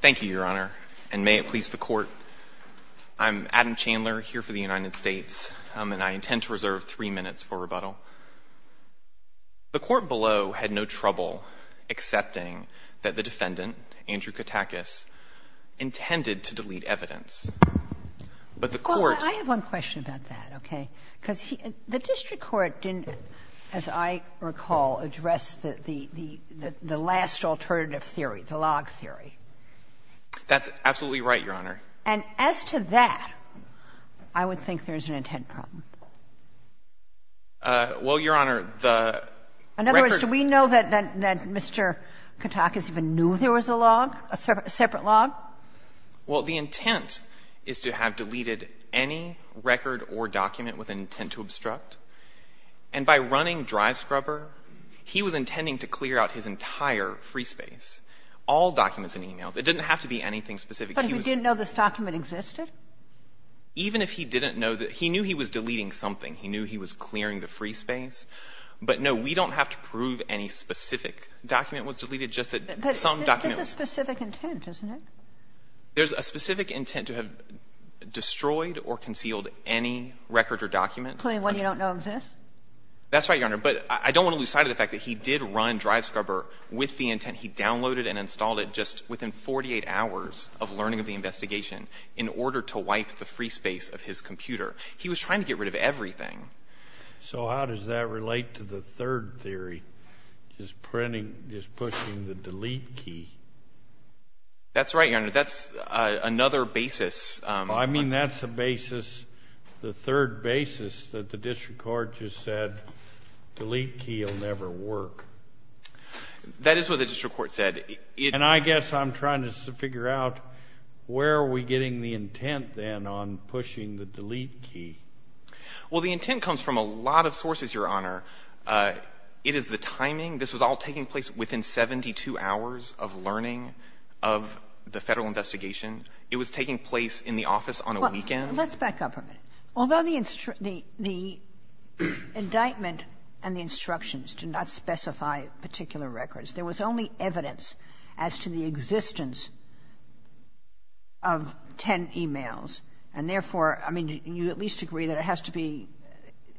Thank you, Your Honor, and may it please the Court, I'm Adam Chandler here for the United States, and I intend to reserve three minutes for rebuttal. The Court below had no trouble accepting that the defendant, Andrew Katakis, intended to delete evidence, but the Court Well, I have one question about that, okay? Because the District Court didn't, as I recall, address the last alternative theory, the log theory. That's absolutely right, Your Honor. And as to that, I would think there's an intent problem. Well, Your Honor, the record In other words, do we know that Mr. Katakis even knew there was a log, a separate log? Well, the intent is to have deleted any record or document with an intent to obstruct. And by running DriveScrubber, he was intending to clear out his entire free space, all documents and e-mails. It didn't have to be anything specific. He was But he didn't know this document existed? Even if he didn't know that he knew he was deleting something. He knew he was clearing the free space. But, no, we don't have to prove any specific document was deleted, just that some document But there's a specific intent, isn't it? There's a specific intent to have destroyed or concealed any record or document. Including one you don't know exists? That's right, Your Honor. But I don't want to lose sight of the fact that he did run DriveScrubber with the intent. He downloaded and installed it just within 48 hours of learning of the investigation in order to wipe the free space of his computer. He was trying to get rid of everything. So how does that relate to the third theory? Just printing, just pushing the delete key? That's right, Your Honor. That's another basis. I mean, that's a basis, the third basis that the district court just said, delete key will never work. That is what the district court said. And I guess I'm trying to figure out where are we getting the intent, then, on pushing the delete key? Well, the intent comes from a lot of sources, Your Honor. It is the timing. This was all taking place within 72 hours of learning of the Federal investigation. It was taking place in the office on a weekend. Let's back up a minute. Although the indictment and the instructions to not specify particular records, there was only evidence as to the existence of 10 e-mails. And therefore, I mean, you at least agree that it has to be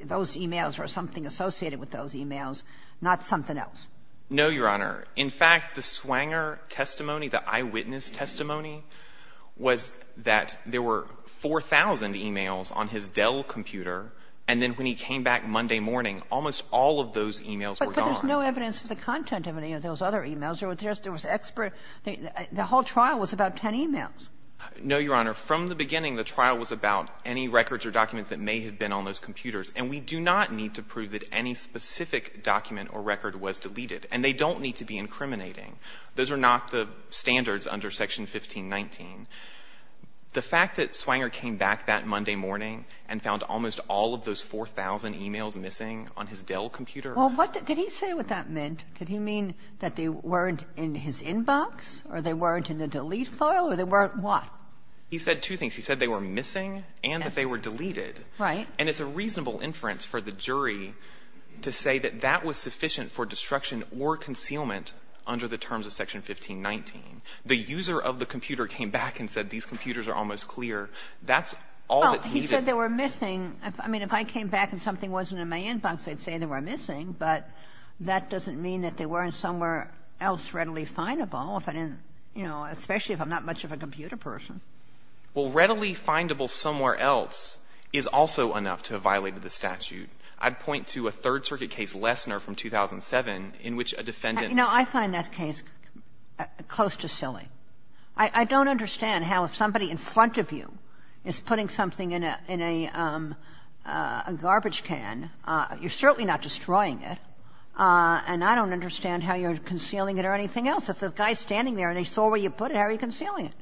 those e-mails or something associated with those e-mails, not something else? No, Your Honor. In fact, the Swanger testimony, the eyewitness testimony, was that there were 4,000 e-mails on his Dell computer, and then when he came back Monday morning, almost all of those e-mails were gone. But there's no evidence for the content of any of those other e-mails. There was just — there was expert — the whole trial was about 10 e-mails. No, Your Honor. From the beginning, the trial was about any records or documents that may have been on those computers. And we do not need to prove that any specific document or record was deleted. And they don't need to be incriminating. Those are not the standards under Section 1519. The fact that Swanger came back that Monday morning and found almost all of those 4,000 e-mails missing on his Dell computer — Well, what — did he say what that meant? Did he mean that they weren't in his inbox or they weren't in the delete file or they weren't what? He said two things. He said they were missing and that they were deleted. Right. And it's a reasonable inference for the jury to say that that was sufficient for destruction or concealment under the terms of Section 1519. The user of the computer came back and said these computers are almost clear. That's all that's needed. Well, he said they were missing. I mean, if I came back and something wasn't in my inbox, I'd say they were missing. But that doesn't mean that they weren't somewhere else readily findable if I didn't — you know, especially if I'm not much of a computer person. Well, readily findable somewhere else is also enough to have violated the statute. I'd point to a Third Circuit case, Lessner from 2007, in which a defendant — You know, I find that case close to silly. I don't understand how if somebody in front of you is putting something in a garbage can, you're certainly not destroying it, and I don't understand how you're concealing it or anything else. If the guy is standing there and he saw where you put it, how are you concealing it?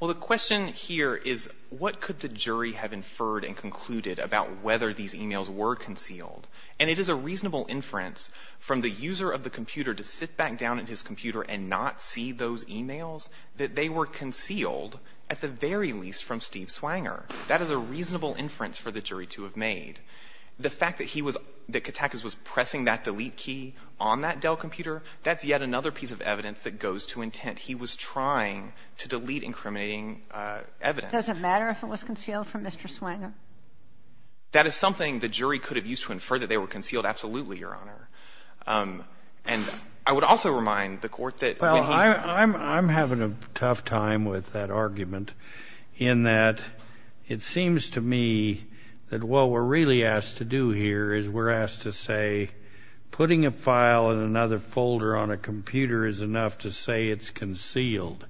Well, the question here is what could the jury have inferred and concluded about whether these emails were concealed? And it is a reasonable inference from the user of the computer to sit back down at his computer and not see those emails that they were concealed, at the very least, from Steve Swanger. That is a reasonable inference for the jury to have made. The fact that he was — that Katakis was pressing that delete key on that Dell computer, that's yet another piece of evidence that goes to intent. He was trying to delete incriminating evidence. Does it matter if it was concealed from Mr. Swanger? That is something the jury could have used to infer that they were concealed. Absolutely, Your Honor. And I would also remind the Court that when he — Well, I'm having a tough time with that argument, in that it seems to me that what we're really asked to do here is we're asked to say putting a file in another folder on a computer is enough to say it's concealed.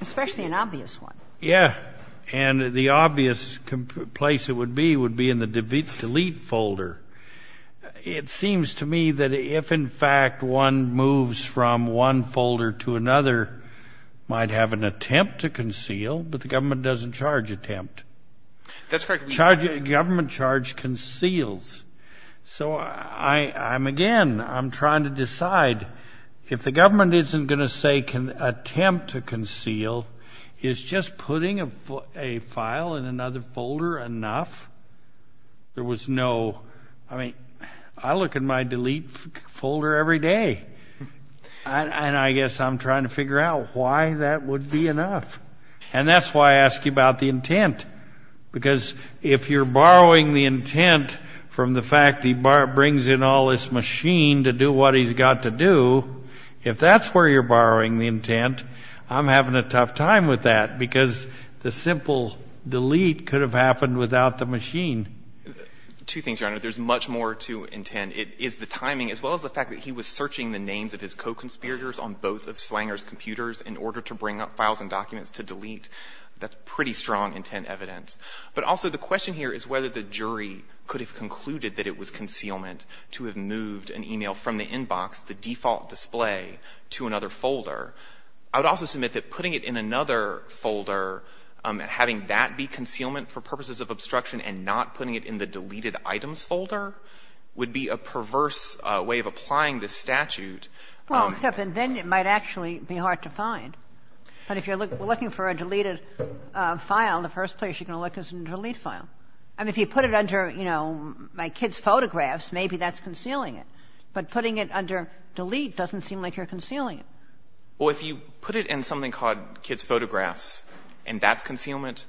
Especially an obvious one. Yeah. And the obvious place it would be would be in the delete folder. It seems to me that if, in fact, one moves from one folder to another, might have an attempt to conceal, but the government doesn't charge attempt. Government charge conceals. So I'm, again, I'm trying to decide if the government isn't going to say can attempt to conceal, is just putting a file in another folder enough? There was no — I mean, I look at my delete folder every day, and I guess I'm trying to figure out why that would be enough. And that's why I ask you about the intent, because if you're borrowing the intent from the fact he brings in all this machine to do what he's got to do, if that's where you're borrowing the intent, I'm having a tough time with that, because the simple delete could have happened without the machine. Two things, Your Honor. There's much more to intent. It is the timing, as well as the fact that he was searching the names of his co-conspirators on both of Slanger's computers in order to bring up files and documents to delete. That's pretty strong intent evidence. But also the question here is whether the jury could have concluded that it was concealment to have moved an email from the inbox, the default display, to another folder. I would also submit that putting it in another folder, having that be concealment for purposes of obstruction, and not putting it in the deleted items folder would be a perverse way of applying this statute. Well, except then it might actually be hard to find. But if you're looking for a deleted file, the first place you're going to look is a delete file. I mean, if you put it under, you know, my kids' photographs, maybe that's concealing it. But putting it under delete doesn't seem like you're concealing it. Well, if you put it in something called kids' photographs and that's concealment,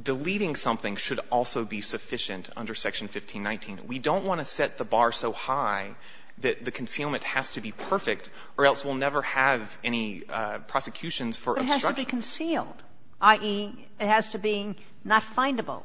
deleting something should also be sufficient under Section 1519. We don't want to set the bar so high that the concealment has to be perfect or else we'll never have any prosecutions for obstruction. But it has to be concealed, i.e., it has to be not findable.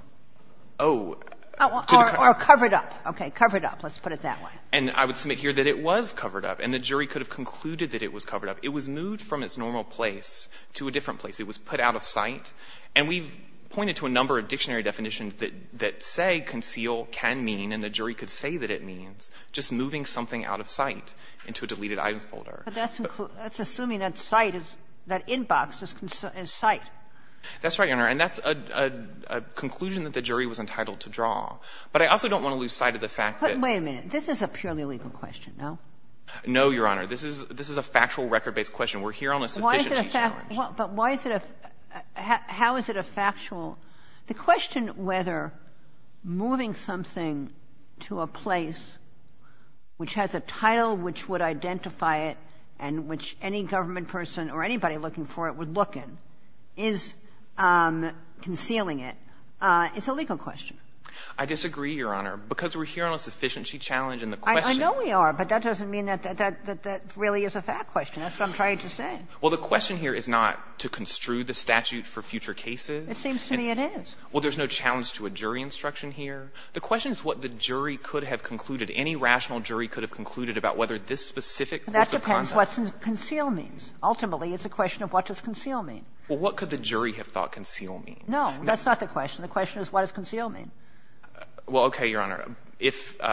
Oh. Or covered up. Okay. Covered up. Let's put it that way. And I would submit here that it was covered up. And the jury could have concluded that it was covered up. It was moved from its normal place to a different place. It was put out of sight. And we've pointed to a number of dictionary definitions that say conceal can mean and the jury could say that it means just moving something out of sight into a deleted items folder. But that's assuming that sight is, that inbox is sight. That's right, Your Honor. And that's a conclusion that the jury was entitled to draw. But I also don't want to lose sight of the fact that the fact that But wait a minute. This is a purely legal question, no? No, Your Honor. This is a factual, record-based question. We're here on a sufficiency challenge. But why is it a – how is it a factual – the question whether moving something to a place which has a title which would identify it and which any government person or anybody looking for it would look in is concealing it? It's a legal question. I disagree, Your Honor. Because we're here on a sufficiency challenge and the question – I know we are. But that doesn't mean that that really is a fact question. That's what I'm trying to say. Well, the question here is not to construe the statute for future cases. It seems to me it is. Well, there's no challenge to a jury instruction here. The question is what the jury could have concluded. Any rational jury could have concluded about whether this specific – That depends what conceal means. Ultimately, it's a question of what does conceal mean. Well, what could the jury have thought conceal means? No. That's not the question. The question is what does conceal mean. Well, okay, Your Honor. If –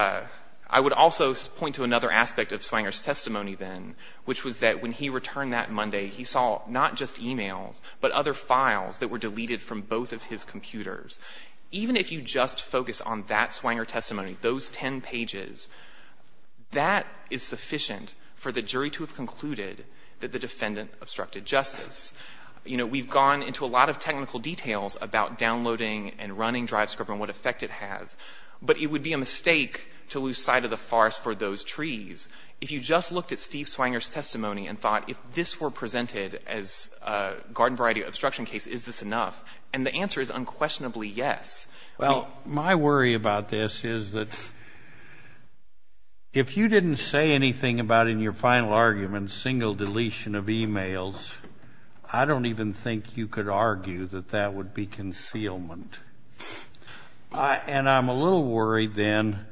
I would also point to another aspect of Swanger's testimony then, which was that when he returned that Monday, he saw not just e-mails, but other files that were deleted from both of his computers. Even if you just focus on that Swanger testimony, those 10 pages, that is sufficient for the jury to have concluded that the defendant obstructed justice. You know, we've gone into a lot of technical details about downloading and running DriveScript and what effect it has. But it would be a mistake to lose sight of the farce for those trees. If you just looked at Steve Swanger's testimony and thought if this were presented as a garden variety obstruction case, is this enough? And the answer is unquestionably yes. Well, my worry about this is that if you didn't say anything about in your final argument single deletion of e-mails, I don't even think you could argue that that would be concealment. And I'm a little worried then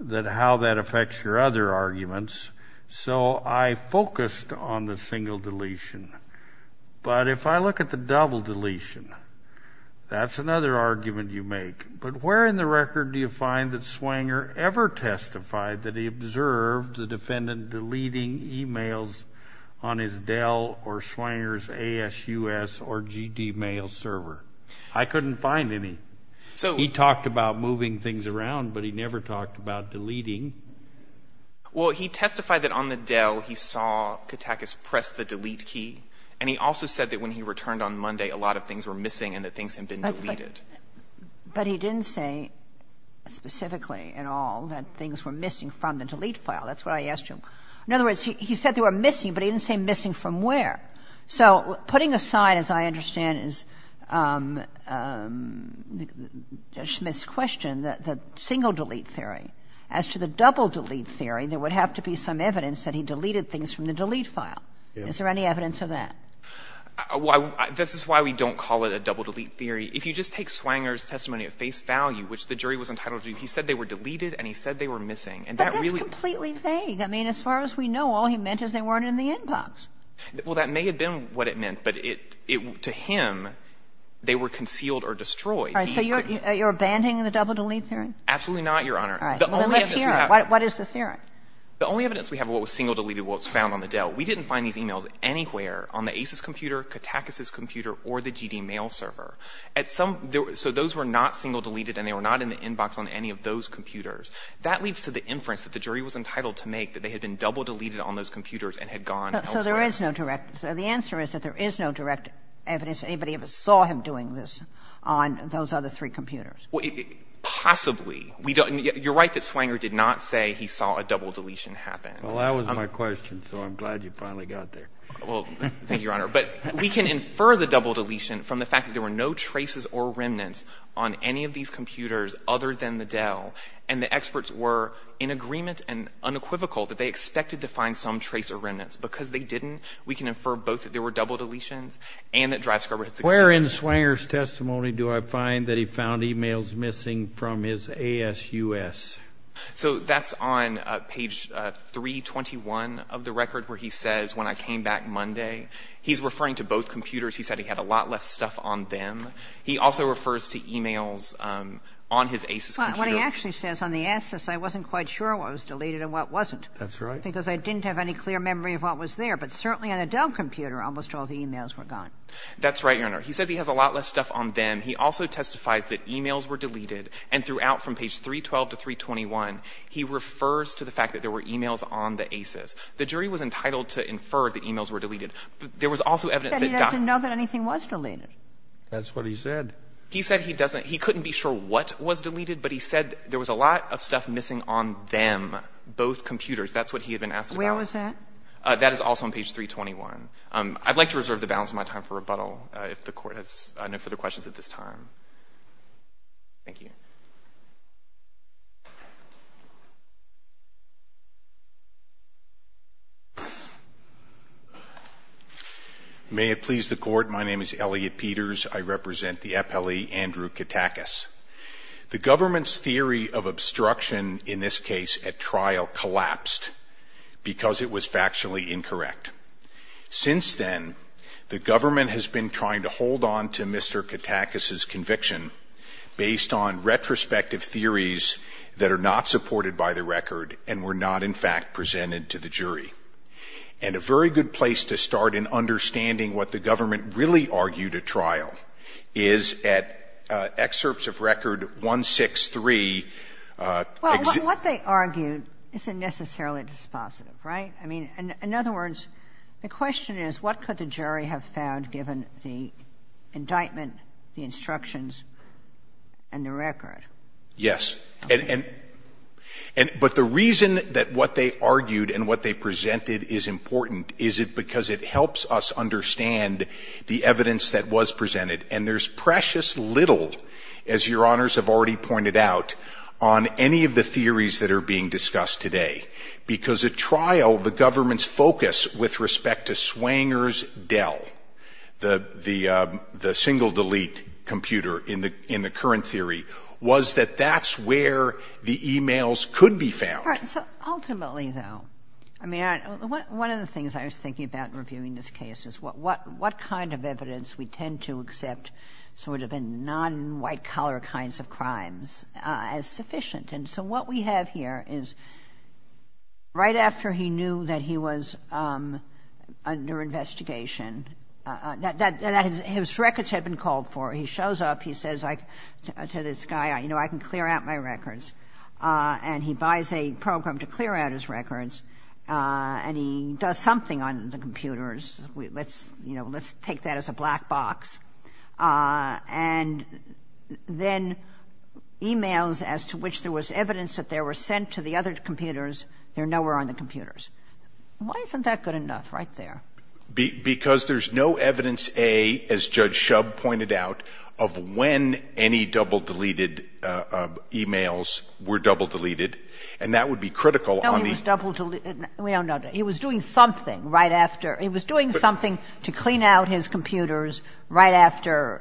that how that affects your other arguments. So I focused on the single deletion. But if I look at the double deletion, that's another argument you make. But where in the record do you find that Swanger ever testified that he observed the defendant deleting e-mails on his Dell or Swanger's ASUS or GD mail server? I couldn't find any. He talked about moving things around, but he never talked about deleting. Well, he testified that on the Dell he saw Katakis press the delete key, and he also said that when he returned on Monday, a lot of things were missing and that things had been deleted. But he didn't say specifically at all that things were missing from the delete file. That's what I asked him. In other words, he said they were missing, but he didn't say missing from where. So putting aside, as I understand, Judge Smith's question, the single delete theory as to the double delete theory, there would have to be some evidence that he deleted things from the delete file. Is there any evidence of that? This is why we don't call it a double delete theory. If you just take Swanger's testimony at face value, which the jury was entitled to, he said they were deleted and he said they were missing. But that's completely vague. I mean, as far as we know, all he meant is they weren't in the inbox. Well, that may have been what it meant, but to him, they were concealed or destroyed. All right. So you're abandoning the double delete theory? Absolutely not, Your Honor. What is the theory? The only evidence we have of what was single deleted was found on the Dell. We didn't find these emails anywhere on the ACES computer, Katakis's computer, or the GD Mail server. So those were not single deleted and they were not in the inbox on any of those computers. That leads to the inference that the jury was entitled to make that they had been double deleted on those computers and had gone elsewhere. So there is no direct. The answer is that there is no direct evidence anybody ever saw him doing this on those other three computers. Possibly. You're right that Swanger did not say he saw a double deletion happen. Well, that was my question. So I'm glad you finally got there. Well, thank you, Your Honor. But we can infer the double deletion from the fact that there were no traces or remnants on any of these computers other than the Dell. And the experts were in agreement and unequivocal that they expected to find some trace or remnants. Because they didn't, we can infer both that there were double deletions and that Dr. Scrubber had succeeded. Where in Swanger's testimony do I find that he found emails missing from his ASUS? So that's on page 321 of the record where he says, when I came back Monday, he's referring to both computers. He said he had a lot less stuff on them. He also refers to emails on his ASUS computer. What he actually says on the ASUS, I wasn't quite sure what was deleted and what wasn't. That's right. Because I didn't have any clear memory of what was there. But certainly on a Dell computer, almost all the emails were gone. That's right, Your Honor. He says he has a lot less stuff on them. He also testifies that emails were deleted. And throughout, from page 312 to 321, he refers to the fact that there were emails on the ASUS. The jury was entitled to infer that emails were deleted. There was also evidence that Dr. Scrubber was missing from both computers. He said he doesn't know that anything was deleted. That's what he said. He said he doesn't. He couldn't be sure what was deleted. But he said there was a lot of stuff missing on them, both computers. That's what he had been asked about. Where was that? That is also on page 321. I'd like to reserve the balance of my time for rebuttal, if the Court has no further questions at this time. Thank you. May it please the Court. My name is Elliot Peters. I represent the appellee, Andrew Katakis. The government's theory of obstruction, in this case, at trial collapsed because it was factually incorrect. Since then, the government has been trying to hold on to Mr. Katakis's conviction based on retrospective theories that are not supported by the record and were not, in fact, presented to the jury. And a very good place to start in understanding what the government really argued at trial is at excerpts of Record 163. Well, what they argued isn't necessarily dispositive, right? In other words, the question is, what could the jury have found, given the indictment, the instructions, and the record? Yes. But the reason that what they argued and what they presented is important is because it helps us understand the evidence that was presented. And there's precious little, as Your Honors have already pointed out, on any of the theories that are being discussed today. Because at trial, the government's focus with respect to Swanger's Dell, the single-delete computer in the current theory, was that that's where the e-mails could be found. All right. So ultimately, though, I mean, one of the things I was thinking about in reviewing this case is what kind of evidence we tend to accept sort of in non-white-collar kinds of crimes as sufficient. And so what we have here is right after he knew that he was under investigation, his records had been called for. He shows up. He says to this guy, you know, I can clear out my records. And he buys a program to clear out his records. And he does something on the computers. Let's take that as a black box. And then e-mails as to which there was evidence that they were sent to the other computers. They're nowhere on the computers. Why isn't that good enough right there? Because there's no evidence, A, as Judge Shub pointed out, of when any double-deleted e-mails were double-deleted. And that would be critical on the- No, he was double-deleted. We don't know. He was doing something right after. He was doing something to clean out his computers right after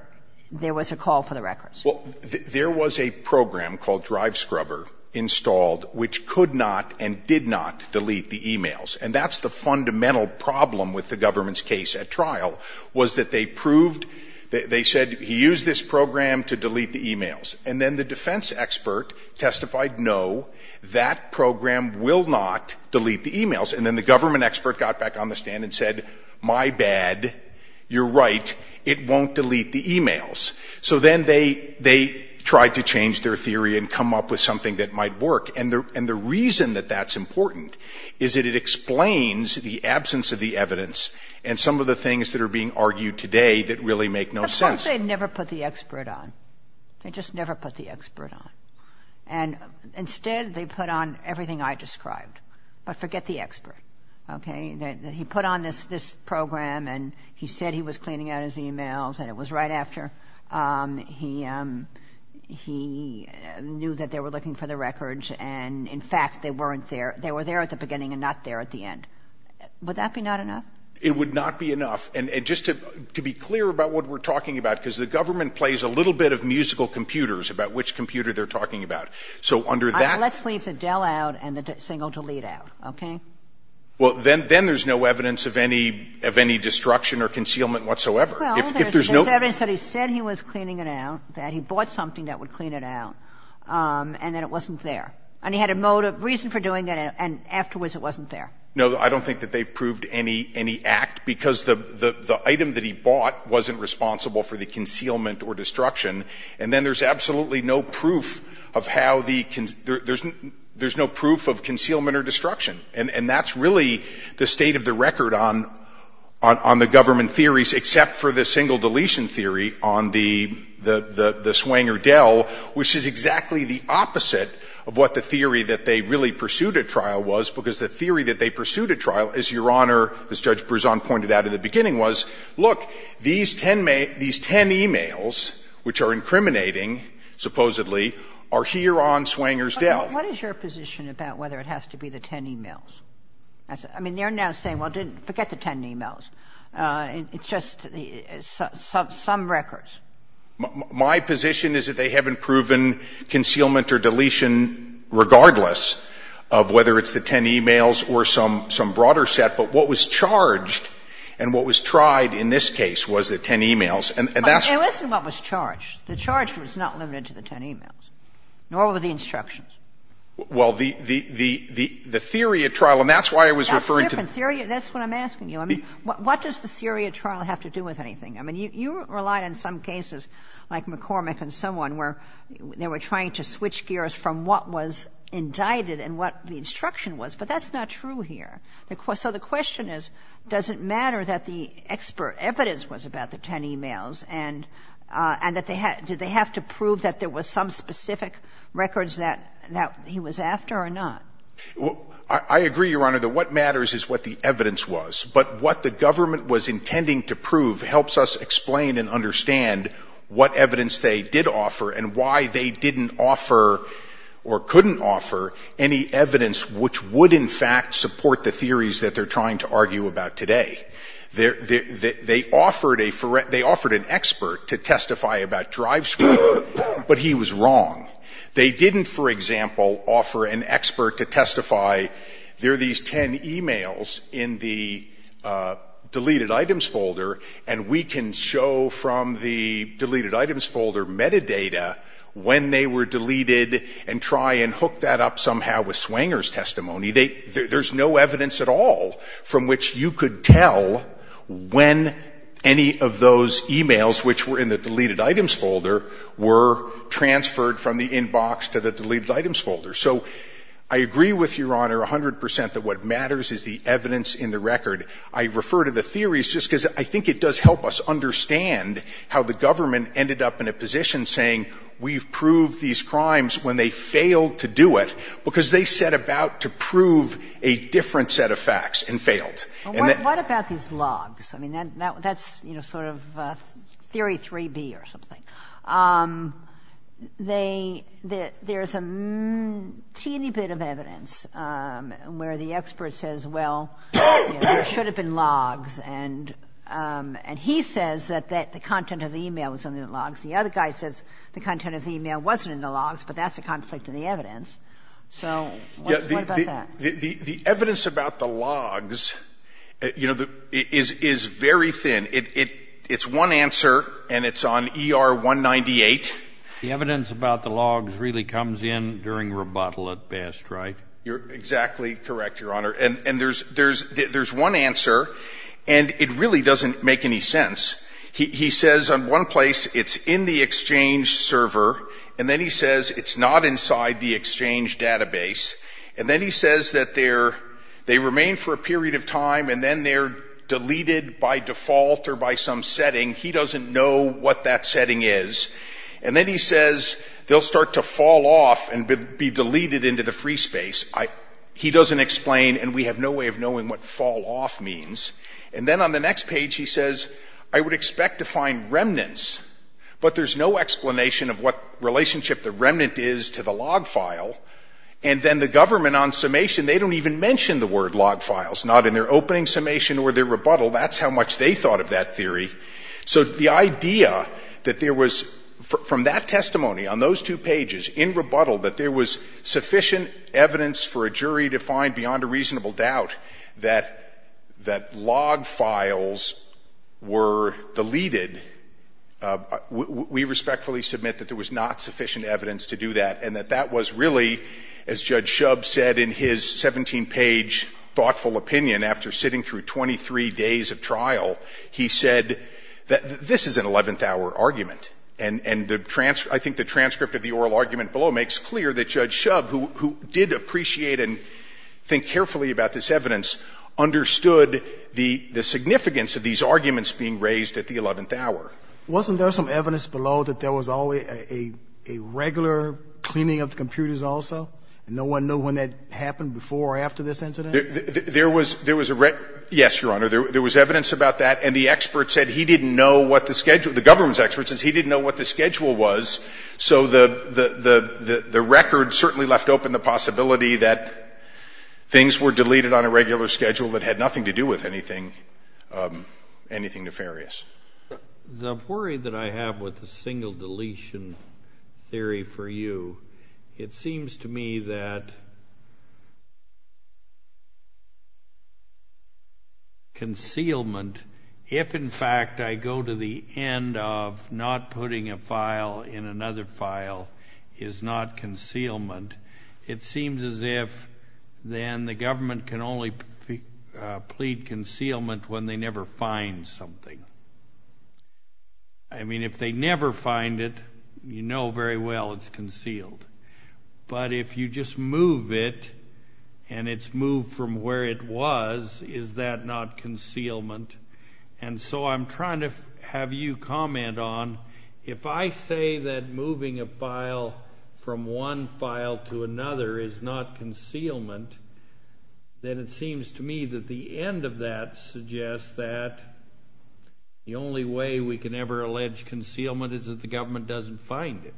there was a call for the records. Well, there was a program called Drive Scrubber installed which could not and did not delete the e-mails. And that's the fundamental problem with the government's case at trial, was that they proved they said he used this program to delete the e-mails. And then the defense expert testified, no, that program will not delete the e-mails. And then the government expert got back on the stand and said, my bad, you're right, it won't delete the e-mails. So then they tried to change their theory and come up with something that might work. And the reason that that's important is that it explains the absence of the evidence and some of the things that are being argued today that really make no sense. But folks, they never put the expert on. They just never put the expert on. And instead, they put on everything I described. But forget the expert, okay? He put on this program and he said he was cleaning out his e-mails and it was right after. He knew that they were looking for the records. And in fact, they weren't there. They were there at the beginning and not there at the end. Would that be not enough? It would not be enough. And just to be clear about what we're talking about, because the government plays a little bit of musical computers about which computer they're talking about. So under that Let's leave the Dell out and the single delete out, okay? Well, then there's no evidence of any of any destruction or concealment whatsoever. If there's no evidence that he said he was cleaning it out, that he bought something that would clean it out, and then it wasn't there. And he had a motive, reason for doing it, and afterwards it wasn't there. No, I don't think that they've proved any act because the item that he bought wasn't responsible for the concealment or destruction. And then there's absolutely no proof of how the there's no proof of concealment or destruction. And that's really the state of the record on the government theories, except for the single deletion theory on the Swanger Dell, which is exactly the opposite of what the theory that they really pursued at trial was. Because the theory that they pursued at trial, as Your Honor, as Judge Berzon pointed out in the beginning, was, look, these 10 emails, which are incriminating, supposedly, are here on Swanger's Dell. But what is your position about whether it has to be the 10 emails? I mean, they're now saying, well, forget the 10 emails. It's just some records. My position is that they haven't proven concealment or deletion regardless of whether it's the 10 emails or some broader set. But what was charged and what was tried in this case was the 10 emails. And that's what you're saying. It wasn't what was charged. The charge was not limited to the 10 emails, nor were the instructions. Well, the theory at trial, and that's why I was referring to the theory. That's a different theory. That's what I'm asking you. I mean, what does the theory at trial have to do with anything? I mean, you relied on some cases like McCormick and someone where they were trying to switch gears from what was indicted and what the instruction was. But that's not true here. So the question is, does it matter that the expert evidence was about the 10 emails and that they had to prove that there was some specific records that he was after or not? I agree, Your Honor, that what matters is what the evidence was. But what the government was intending to prove helps us explain and understand what evidence they did offer and why they didn't offer or couldn't offer any evidence which would, in fact, support the theories that they're trying to argue about today. They offered an expert to testify about drive screening, but he was wrong. They didn't, for example, offer an expert to testify there are these 10 emails in the deleted items folder, and we can show from the deleted items folder metadata when they were deleted and try and hook that up somehow with Swanger's testimony. There's no evidence at all from which you could tell when any of those emails, which were in the deleted items folder, were transferred from the inbox to the deleted items folder. So I agree with Your Honor 100 percent that what matters is the evidence in the record. I refer to the theories just because I think it does help us understand how the government ended up in a position saying we've proved these crimes when they failed to do it because they set about to prove a different set of facts and failed. What about these logs? I mean, that's sort of theory 3B or something. There's a teeny bit of evidence where the expert says, well, there should have been logs, and he says that the content of the email was in the logs. The other guy says the content of the email wasn't in the logs, but that's a conflict in the evidence. So what about that? The evidence about the logs, you know, is very thin. It's one answer, and it's on ER 198. The evidence about the logs really comes in during rebuttal at best, right? You're exactly correct, Your Honor. And there's one answer, and it really doesn't make any sense. He says in one place it's in the Exchange server, and then he says it's not inside the Exchange database. And then he says that they remain for a period of time, and then they're deleted by default or by some setting. He doesn't know what that setting is. And then he says they'll start to fall off and be deleted into the free space. He doesn't explain, and we have no way of knowing what fall off means. And then on the next page he says, I would expect to find remnants, but there's no explanation of what relationship the remnant is to the log file. And then the government on summation, they don't even mention the word log files, not in their opening summation or their rebuttal. That's how much they thought of that theory. So the idea that there was, from that testimony on those two pages in rebuttal, that there was sufficient evidence for a jury to find beyond a reasonable doubt that log files were deleted, we respectfully submit that there was not sufficient evidence to do that and that that was really, as Judge Shub said in his 17-page thoughtful opinion after sitting through 23 days of trial, he said that this is an 11th-hour argument. And I think the transcript of the oral argument below makes clear that Judge Shub, who did appreciate and think carefully about this evidence, understood the significance of these arguments being raised at the 11th hour. Wasn't there some evidence below that there was a regular cleaning of the computers also, and no one knew when that happened before or after this incident? Yes, Your Honor. There was evidence about that, and the expert said he didn't know what the schedule was, so the record certainly left open the possibility that things were deleted on a regular schedule that had nothing to do with anything nefarious. The worry that I have with the single deletion theory for you, it seems to me that concealment, if in fact I go to the end of not putting a file in another file, is not concealment, it seems as if then the government can only plead concealment when they never find something. I mean, if they never find it, you know very well it's concealed. But if you just move it, and it's moved from where it was, is that not concealment? And so I'm trying to have you comment on, if I say that moving a file from one file to another is not concealment, then it seems to me that the end of that suggests that the only way we can ever allege concealment is if the government doesn't find it.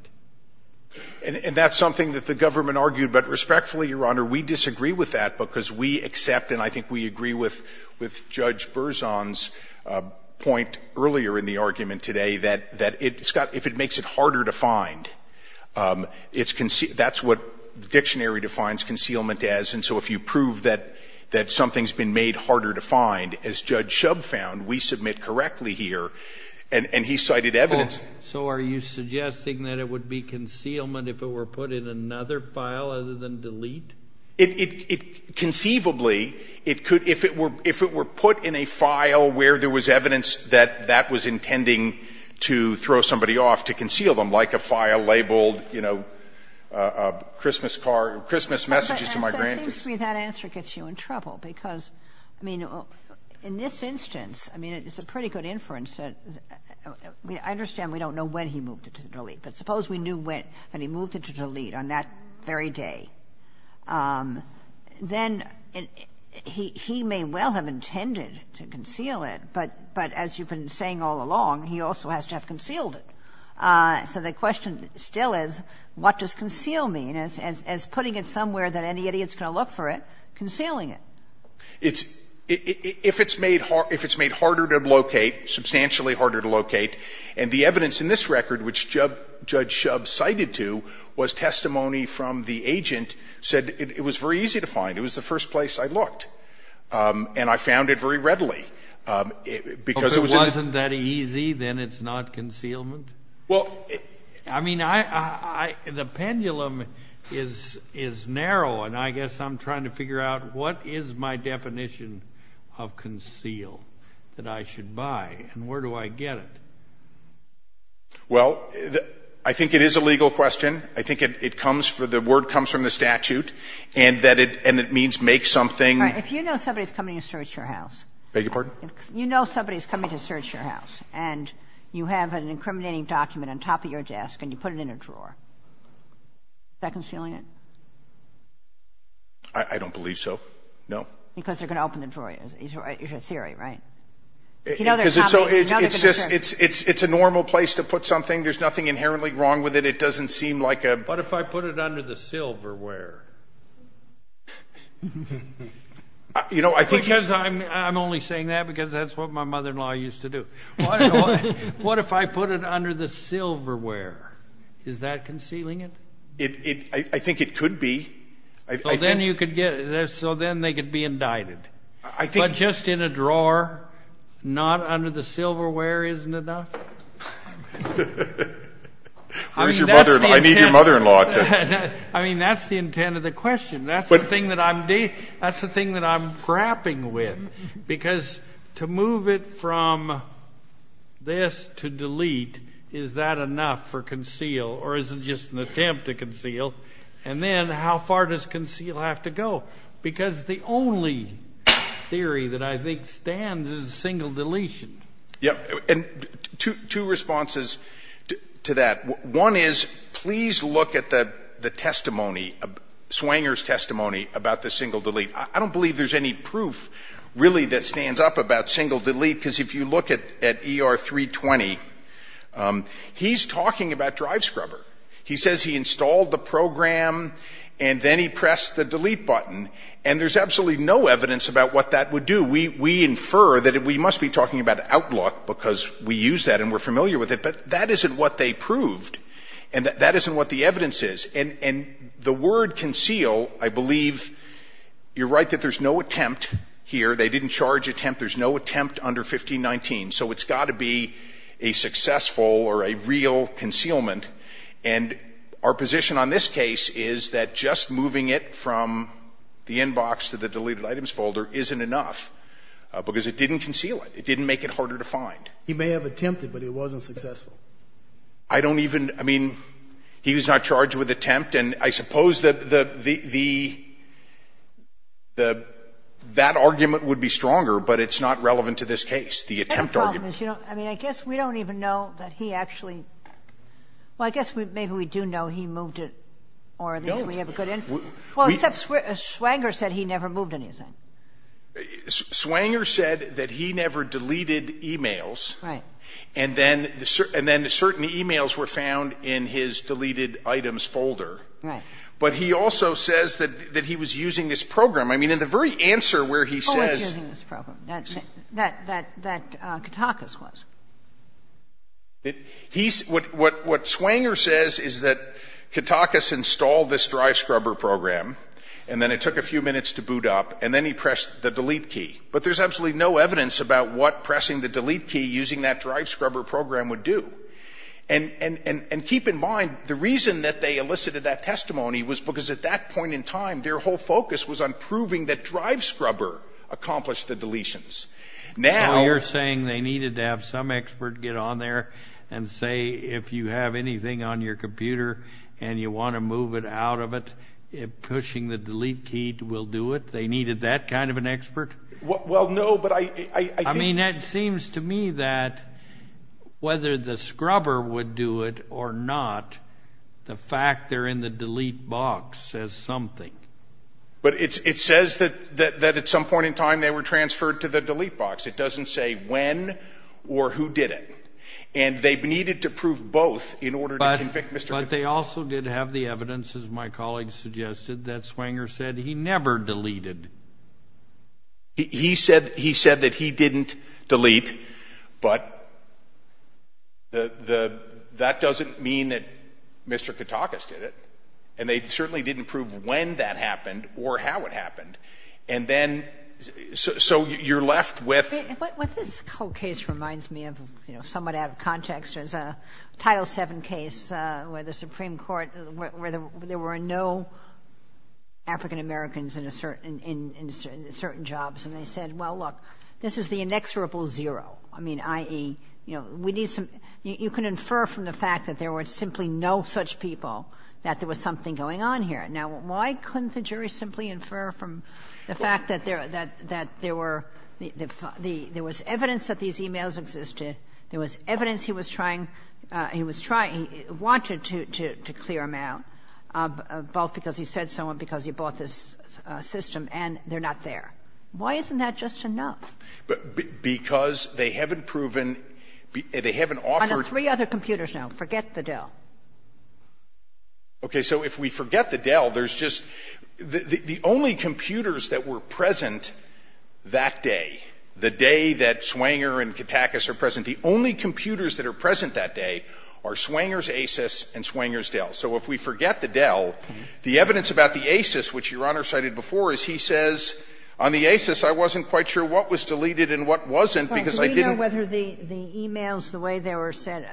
And that's something that the government argued, but respectfully, Your Honor, we disagree with that because we accept, and I think we agree with Judge Berzon's point earlier in the argument today, that if it makes it harder to find, that's what the dictionary defines concealment as, and so if you prove that something's been made harder to find, as Judge Shub found, we submit correctly here, and he cited evidence. So are you suggesting that it would be concealment if it were put in another file other than delete? It, conceivably, it could, if it were, if it were put in a file where there was evidence that that was intending to throw somebody off, to conceal them, like a file labeled, you know, Christmas car, Christmas messages to my grandkids. And so it seems to me that answer gets you in trouble because, I mean, in this instance, I mean, it's a pretty good inference that, I understand we don't know when he moved it to delete, but suppose we knew when, when he moved it to delete on that very day. Then he may well have intended to conceal it, but as you've been saying all along, he also has to have concealed it. So the question still is, what does conceal mean, as putting it somewhere that any idiot's going to look for it, concealing it? It's, if it's made, if it's made harder to locate, substantially harder to locate, and the evidence in this record, which Judge Shub cited to, was testimony from the agent, said it was very easy to find. It was the first place I looked. And I found it very readily, because it was in the. If it wasn't that easy, then it's not concealment? Well, it. I mean, I, I, the pendulum is, is narrow, and I guess I'm trying to figure out what is my definition of conceal that I should buy, and where do I get it? Well, the, I think it is a legal question. I think it, it comes from, the word comes from the statute, and that it, and it means make something. Right. If you know somebody's coming to search your house. Beg your pardon? If you know somebody's coming to search your house, and you have an incriminating document on top of your desk, and you put it in a drawer, is that concealing it? I, I don't believe so. No. Because they're going to open it for you. It's your, it's your theory, right? If you know they're coming, you know they're going to search. It's just, it's, it's, it's a normal place to put something. There's nothing inherently wrong with it. It doesn't seem like a. What if I put it under the silverware? You know, I think. Because I'm, I'm only saying that because that's what my mother-in-law used to do. What, what if I put it under the silverware? Is that concealing it? It, it, I, I think it could be. So then you could get, so then they could be indicted. I think. But just in a drawer, not under the silverware isn't enough? Where's your mother-in-law? I need your mother-in-law to. I mean, that's the intent of the question. That's the thing that I'm, that's the thing that I'm crapping with. Because to move it from this to delete, is that enough for conceal? Or is it just an attempt to conceal? And then, how far does conceal have to go? Because the only theory that I think stands is single deletion. Yep. And two, two responses to, to that. One is, please look at the, the testimony, Swanger's testimony about the single delete. I don't believe there's any proof, really, that stands up about single delete. Because if you look at, at ER 320, he's talking about Drive Scrubber. He says he installed the program and then he pressed the delete button. And there's absolutely no evidence about what that would do. We, we infer that we must be talking about Outlook because we use that and we're familiar with it. But that isn't what they proved. And that, that isn't what the evidence is. And, and the word conceal, I believe, you're right that there's no attempt here. They didn't charge attempt. There's no attempt under 1519. So it's got to be a successful or a real concealment. And our position on this case is that just moving it from the inbox to the deleted items folder isn't enough because it didn't conceal it. It didn't make it harder to find. He may have attempted, but it wasn't successful. I don't even, I mean, he was not charged with attempt. And I suppose the, the, the, the, that argument would be stronger, but it's not relevant to this case, the attempt argument. I mean, I guess we don't even know that he actually, well, I guess maybe we do know he moved it, or at least we have a good information. Well, except Swanger said he never moved anything. Swanger said that he never deleted e-mails. Right. And then, and then certain e-mails were found in his deleted items folder. Right. But he also says that, that he was using this program. I mean, in the very answer where he says. Who was using this program? That, that, that, that Katakis was. He's, what, what, what Swanger says is that Katakis installed this drive scrubber program, and then it took a few minutes to boot up, and then he pressed the delete key. But there's absolutely no evidence about what pressing the delete key using that drive scrubber program would do. And, and, and, and keep in mind, the reason that they elicited that testimony was because at that point in time, their whole focus was on proving that drive scrubber accomplished the deletions. Now. So you're saying they needed to have some expert get on there and say, if you have anything on your computer and you want to move it out of it, pushing the delete key will do it? They needed that kind of an expert? Well, no, but I, I, I think. I mean, it seems to me that whether the scrubber would do it or not, the fact they're in the delete box says something. But it, it says that, that, that at some point in time they were transferred to the delete box. It doesn't say when or who did it. And they needed to prove both in order to convict Mr. Katakis. But, but they also did have the evidence, as my colleague suggested, that Swanger said he never deleted. He said, he said that he didn't delete, but the, the, that doesn't mean that Mr. Katakis did it. And they certainly didn't prove when that happened or how it happened. And then, so, so you're left with. What, what this whole case reminds me of, you know, somewhat out of context, is a Title VII case where the Supreme Court, where there were no African-Americans in a certain, in certain jobs. And they said, well, look, this is the inexorable zero. I mean, i.e., you know, we need some, you can infer from the fact that there were simply no such people that there was something going on here. Now, why couldn't the jury simply infer from the fact that there, that, that there were, there was evidence that these e-mails existed, there was evidence he was trying to, he was trying, he wanted to, to, to clear them out, both because he said so and because he bought this system, and they're not there? Why isn't that just enough? But, because they haven't proven, they haven't offered. On the three other computers now. Forget the Dell. Okay. So if we forget the Dell, there's just, the, the only computers that were present that day, the day that Swanger and Katakis are present, the only computers that are present that day are Swanger's ACES and Swanger's Dell. So if we forget the Dell, the evidence about the ACES, which Your Honor cited before, is he says, on the ACES, I wasn't quite sure what was deleted and what wasn't, because I didn't. Sotomayor, the e-mails, the way they were sent,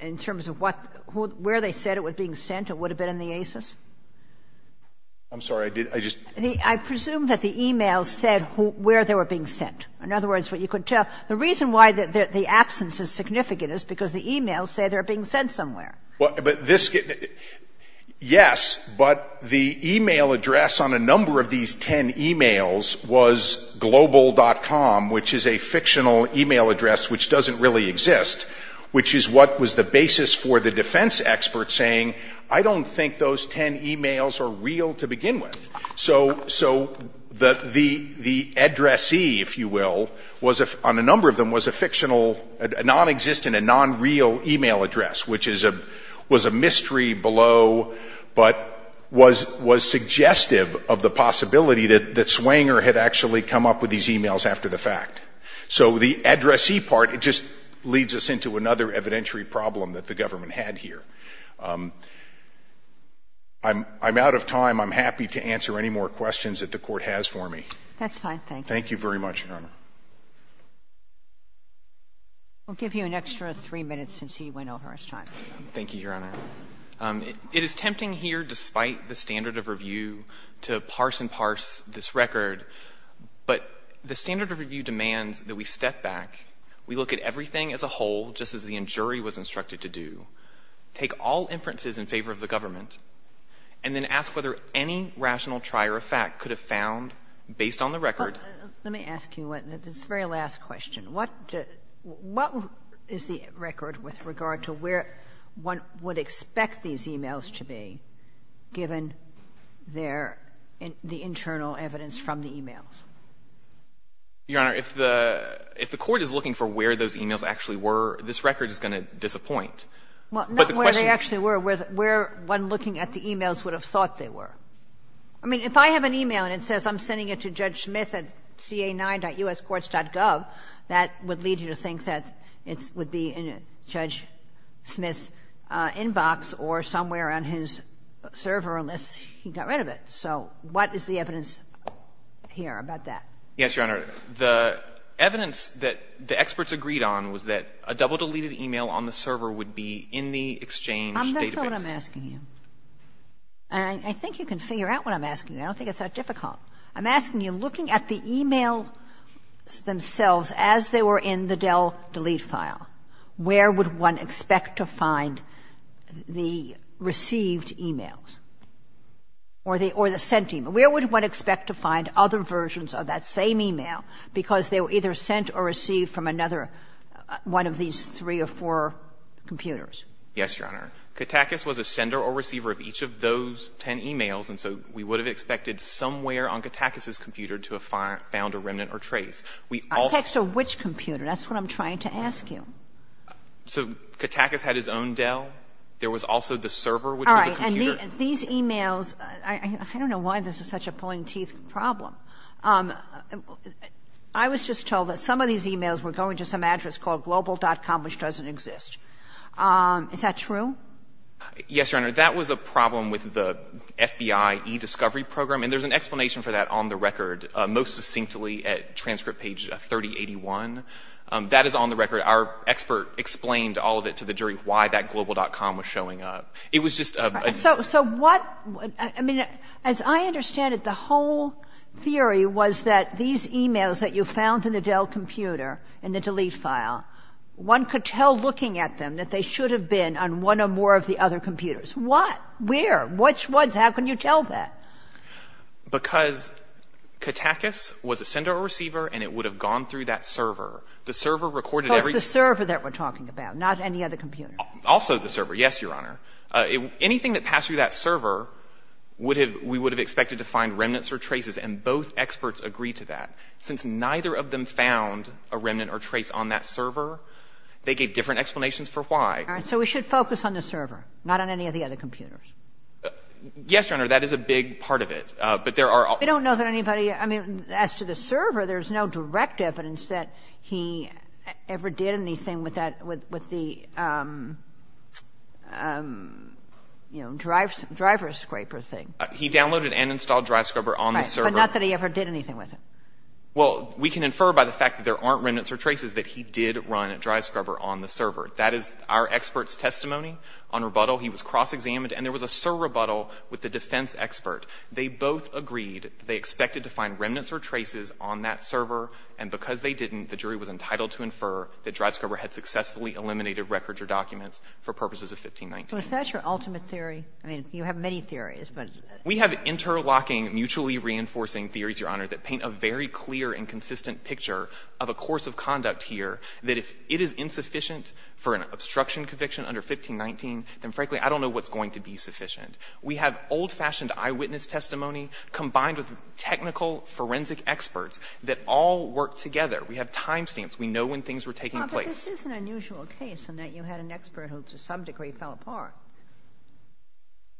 in terms of what, where they said it was being sent, it would have been in the ACES? I'm sorry, I did, I just. I presume that the e-mails said where they were being sent. In other words, what you could tell, the reason why the absence is significant is because the e-mails say they're being sent somewhere. Well, but this, yes, but the e-mail address on a number of these ten e-mails was global.com, which is a fictional e-mail address which doesn't really exist, which is what was the basis for the defense experts saying, I don't think those ten e-mails are real to begin with. So the addressee, if you will, on a number of them was a fictional, non-existent and non-real e-mail address, which was a mystery below, but was suggestive of the possibility that Swanger had actually come up with these e-mails after the fact. So the addressee part, it just leads us into another evidentiary problem that the government had here. I'm out of time. I'm happy to answer any more questions that the Court has for me. That's fine. Thank you. Thank you very much, Your Honor. We'll give you an extra three minutes since he went over his time. Thank you, Your Honor. It is tempting here, despite the standard of review, to parse and parse this record, but the standard of review demands that we step back. We look at everything as a whole, just as the jury was instructed to do. Take all inferences in favor of the government, and then ask whether any rational trier of fact could have found, based on the record. Let me ask you this very last question. What is the record with regard to where one would expect these e-mails to be, given the internal evidence from the e-mails? Your Honor, if the Court is looking for where those e-mails actually were, this record is going to disappoint. Well, not where they actually were. Where one looking at the e-mails would have thought they were. I mean, if I have an e-mail and it says I'm sending it to Judge Smith at ca9.uscourts.gov, that would lead you to think that it would be in Judge Smith's inbox or somewhere on his server, unless he got rid of it. So what is the evidence here about that? Yes, Your Honor. The evidence that the experts agreed on was that a double-deleted e-mail on the server would be in the Exchange database. I'm not sure what I'm asking you. And I think you can figure out what I'm asking you. I don't think it's that difficult. I'm asking you, looking at the e-mails themselves as they were in the Dell delete file, where would one expect to find the received e-mails or the sent e-mails? Where would one expect to find other versions of that same e-mail because they were either sent or received from another one of these three or four computers? Yes, Your Honor. Kattakis was a sender or receiver of each of those ten e-mails, and so we would have expected somewhere on Kattakis's computer to have found a remnant or trace. We also. A text of which computer? That's what I'm trying to ask you. So Kattakis had his own Dell. There was also the server, which was a computer. These e-mails, I don't know why this is such a pulling teeth problem. I was just told that some of these e-mails were going to some address called global.com, which doesn't exist. Is that true? Yes, Your Honor. That was a problem with the FBI e-discovery program, and there's an explanation for that on the record, most succinctly at transcript page 3081. That is on the record. Our expert explained all of it to the jury why that global.com was showing up. It was just a. So what? I mean, as I understand it, the whole theory was that these e-mails that you found in the Dell computer in the delete file, one could tell looking at them that they should have been on one or more of the other computers. What? Where? Which ones? How can you tell that? Because Kattakis was a sender or receiver, and it would have gone through that server. The server recorded every. That's the server that we're talking about, not any other computer. Also the server, yes, Your Honor. Anything that passed through that server, we would have expected to find remnants or traces, and both experts agreed to that. Since neither of them found a remnant or trace on that server, they gave different explanations for why. All right. So we should focus on the server, not on any of the other computers. Yes, Your Honor. That is a big part of it. But there are. We don't know that anybody. I mean, as to the server, there's no direct evidence that he ever did anything with the, you know, driver scraper thing. He downloaded and installed driver scraper on the server. Right. But not that he ever did anything with it. Well, we can infer by the fact that there aren't remnants or traces that he did run driver scraper on the server. That is our expert's testimony on rebuttal. He was cross-examined. And there was a surrebuttal with the defense expert. They both agreed that they expected to find remnants or traces on that server. And because they didn't, the jury was entitled to infer that driver scraper had successfully eliminated records or documents for purposes of 1519. So is that your ultimate theory? I mean, you have many theories, but. We have interlocking, mutually reinforcing theories, Your Honor, that paint a very clear and consistent picture of a course of conduct here, that if it is insufficient for an obstruction conviction under 1519, then frankly, I don't know what's going to be sufficient. We have old-fashioned eyewitness testimony combined with technical forensic experts that all work together. We have time stamps. We know when things were taking place. But this is an unusual case in that you had an expert who to some degree fell apart.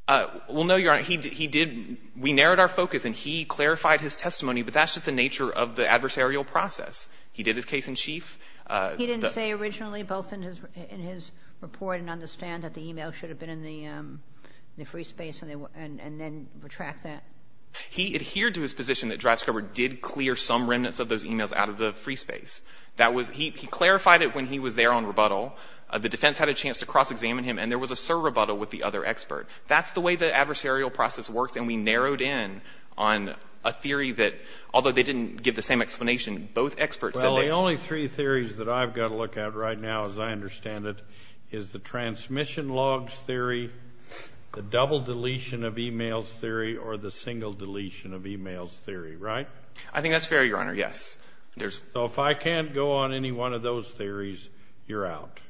Well, no, Your Honor. He did — we narrowed our focus, and he clarified his testimony, but that's just the nature of the adversarial process. He did his case in chief. He didn't say originally both in his report and understand that the e-mail should have been in the free space and then retract that? He adhered to his position that Dreisberger did clear some remnants of those e-mails out of the free space. That was — he clarified it when he was there on rebuttal. The defense had a chance to cross-examine him, and there was a serve rebuttal with the other expert. That's the way the adversarial process works, and we narrowed in on a theory that, although they didn't give the same explanation, both experts said — Well, the only three theories that I've got to look at right now, as I understand it, is the transmission logs theory, the double deletion of e-mails theory, or the single deletion of e-mails theory, right? I think that's fair, Your Honor. Yes. So if I can't go on any one of those theories, you're out?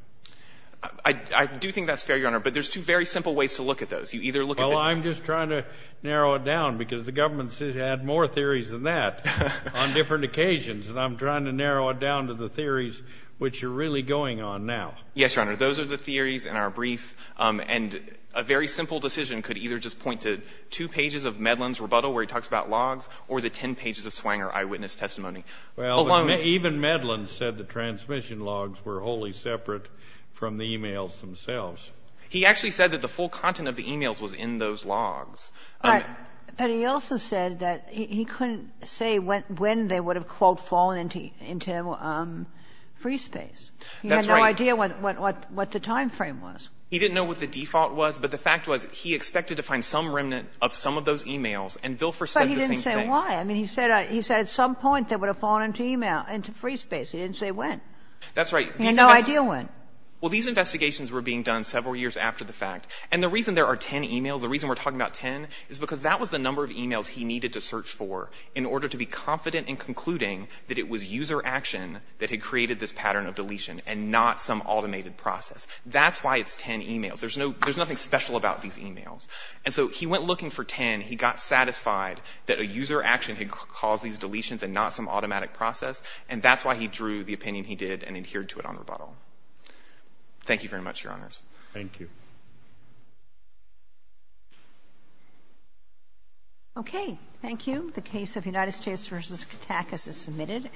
I do think that's fair, Your Honor, but there's two very simple ways to look at those. You either look at the — Well, I'm just trying to narrow it down, because the government has had more theories than that on different occasions, and I'm trying to narrow it down to the theories which you're really going on now. Yes, Your Honor. Those are the theories in our brief, and a very simple decision could either just be the 10 pages of Medlin's rebuttal, where he talks about logs, or the 10 pages of Swanger eyewitness testimony. Well, even Medlin said the transmission logs were wholly separate from the e-mails themselves. He actually said that the full content of the e-mails was in those logs. But he also said that he couldn't say when they would have, quote, fallen into free space. That's right. He had no idea what the timeframe was. He didn't know what the default was, but the fact was he expected to find some of those e-mails, and Vilfer said the same thing. But he didn't say why. I mean, he said at some point they would have fallen into e-mail, into free space. He didn't say when. That's right. He had no idea when. Well, these investigations were being done several years after the fact. And the reason there are 10 e-mails, the reason we're talking about 10 is because that was the number of e-mails he needed to search for in order to be confident in concluding that it was user action that had created this pattern of deletion and not some automated process. That's why it's 10 e-mails. There's nothing special about these e-mails. And so he went looking for 10. He got satisfied that a user action had caused these deletions and not some automatic process, and that's why he drew the opinion he did and adhered to it on rebuttal. Thank you very much, Your Honors. Thank you. Okay. Thank you. The case of United States v. Kattakis is submitted.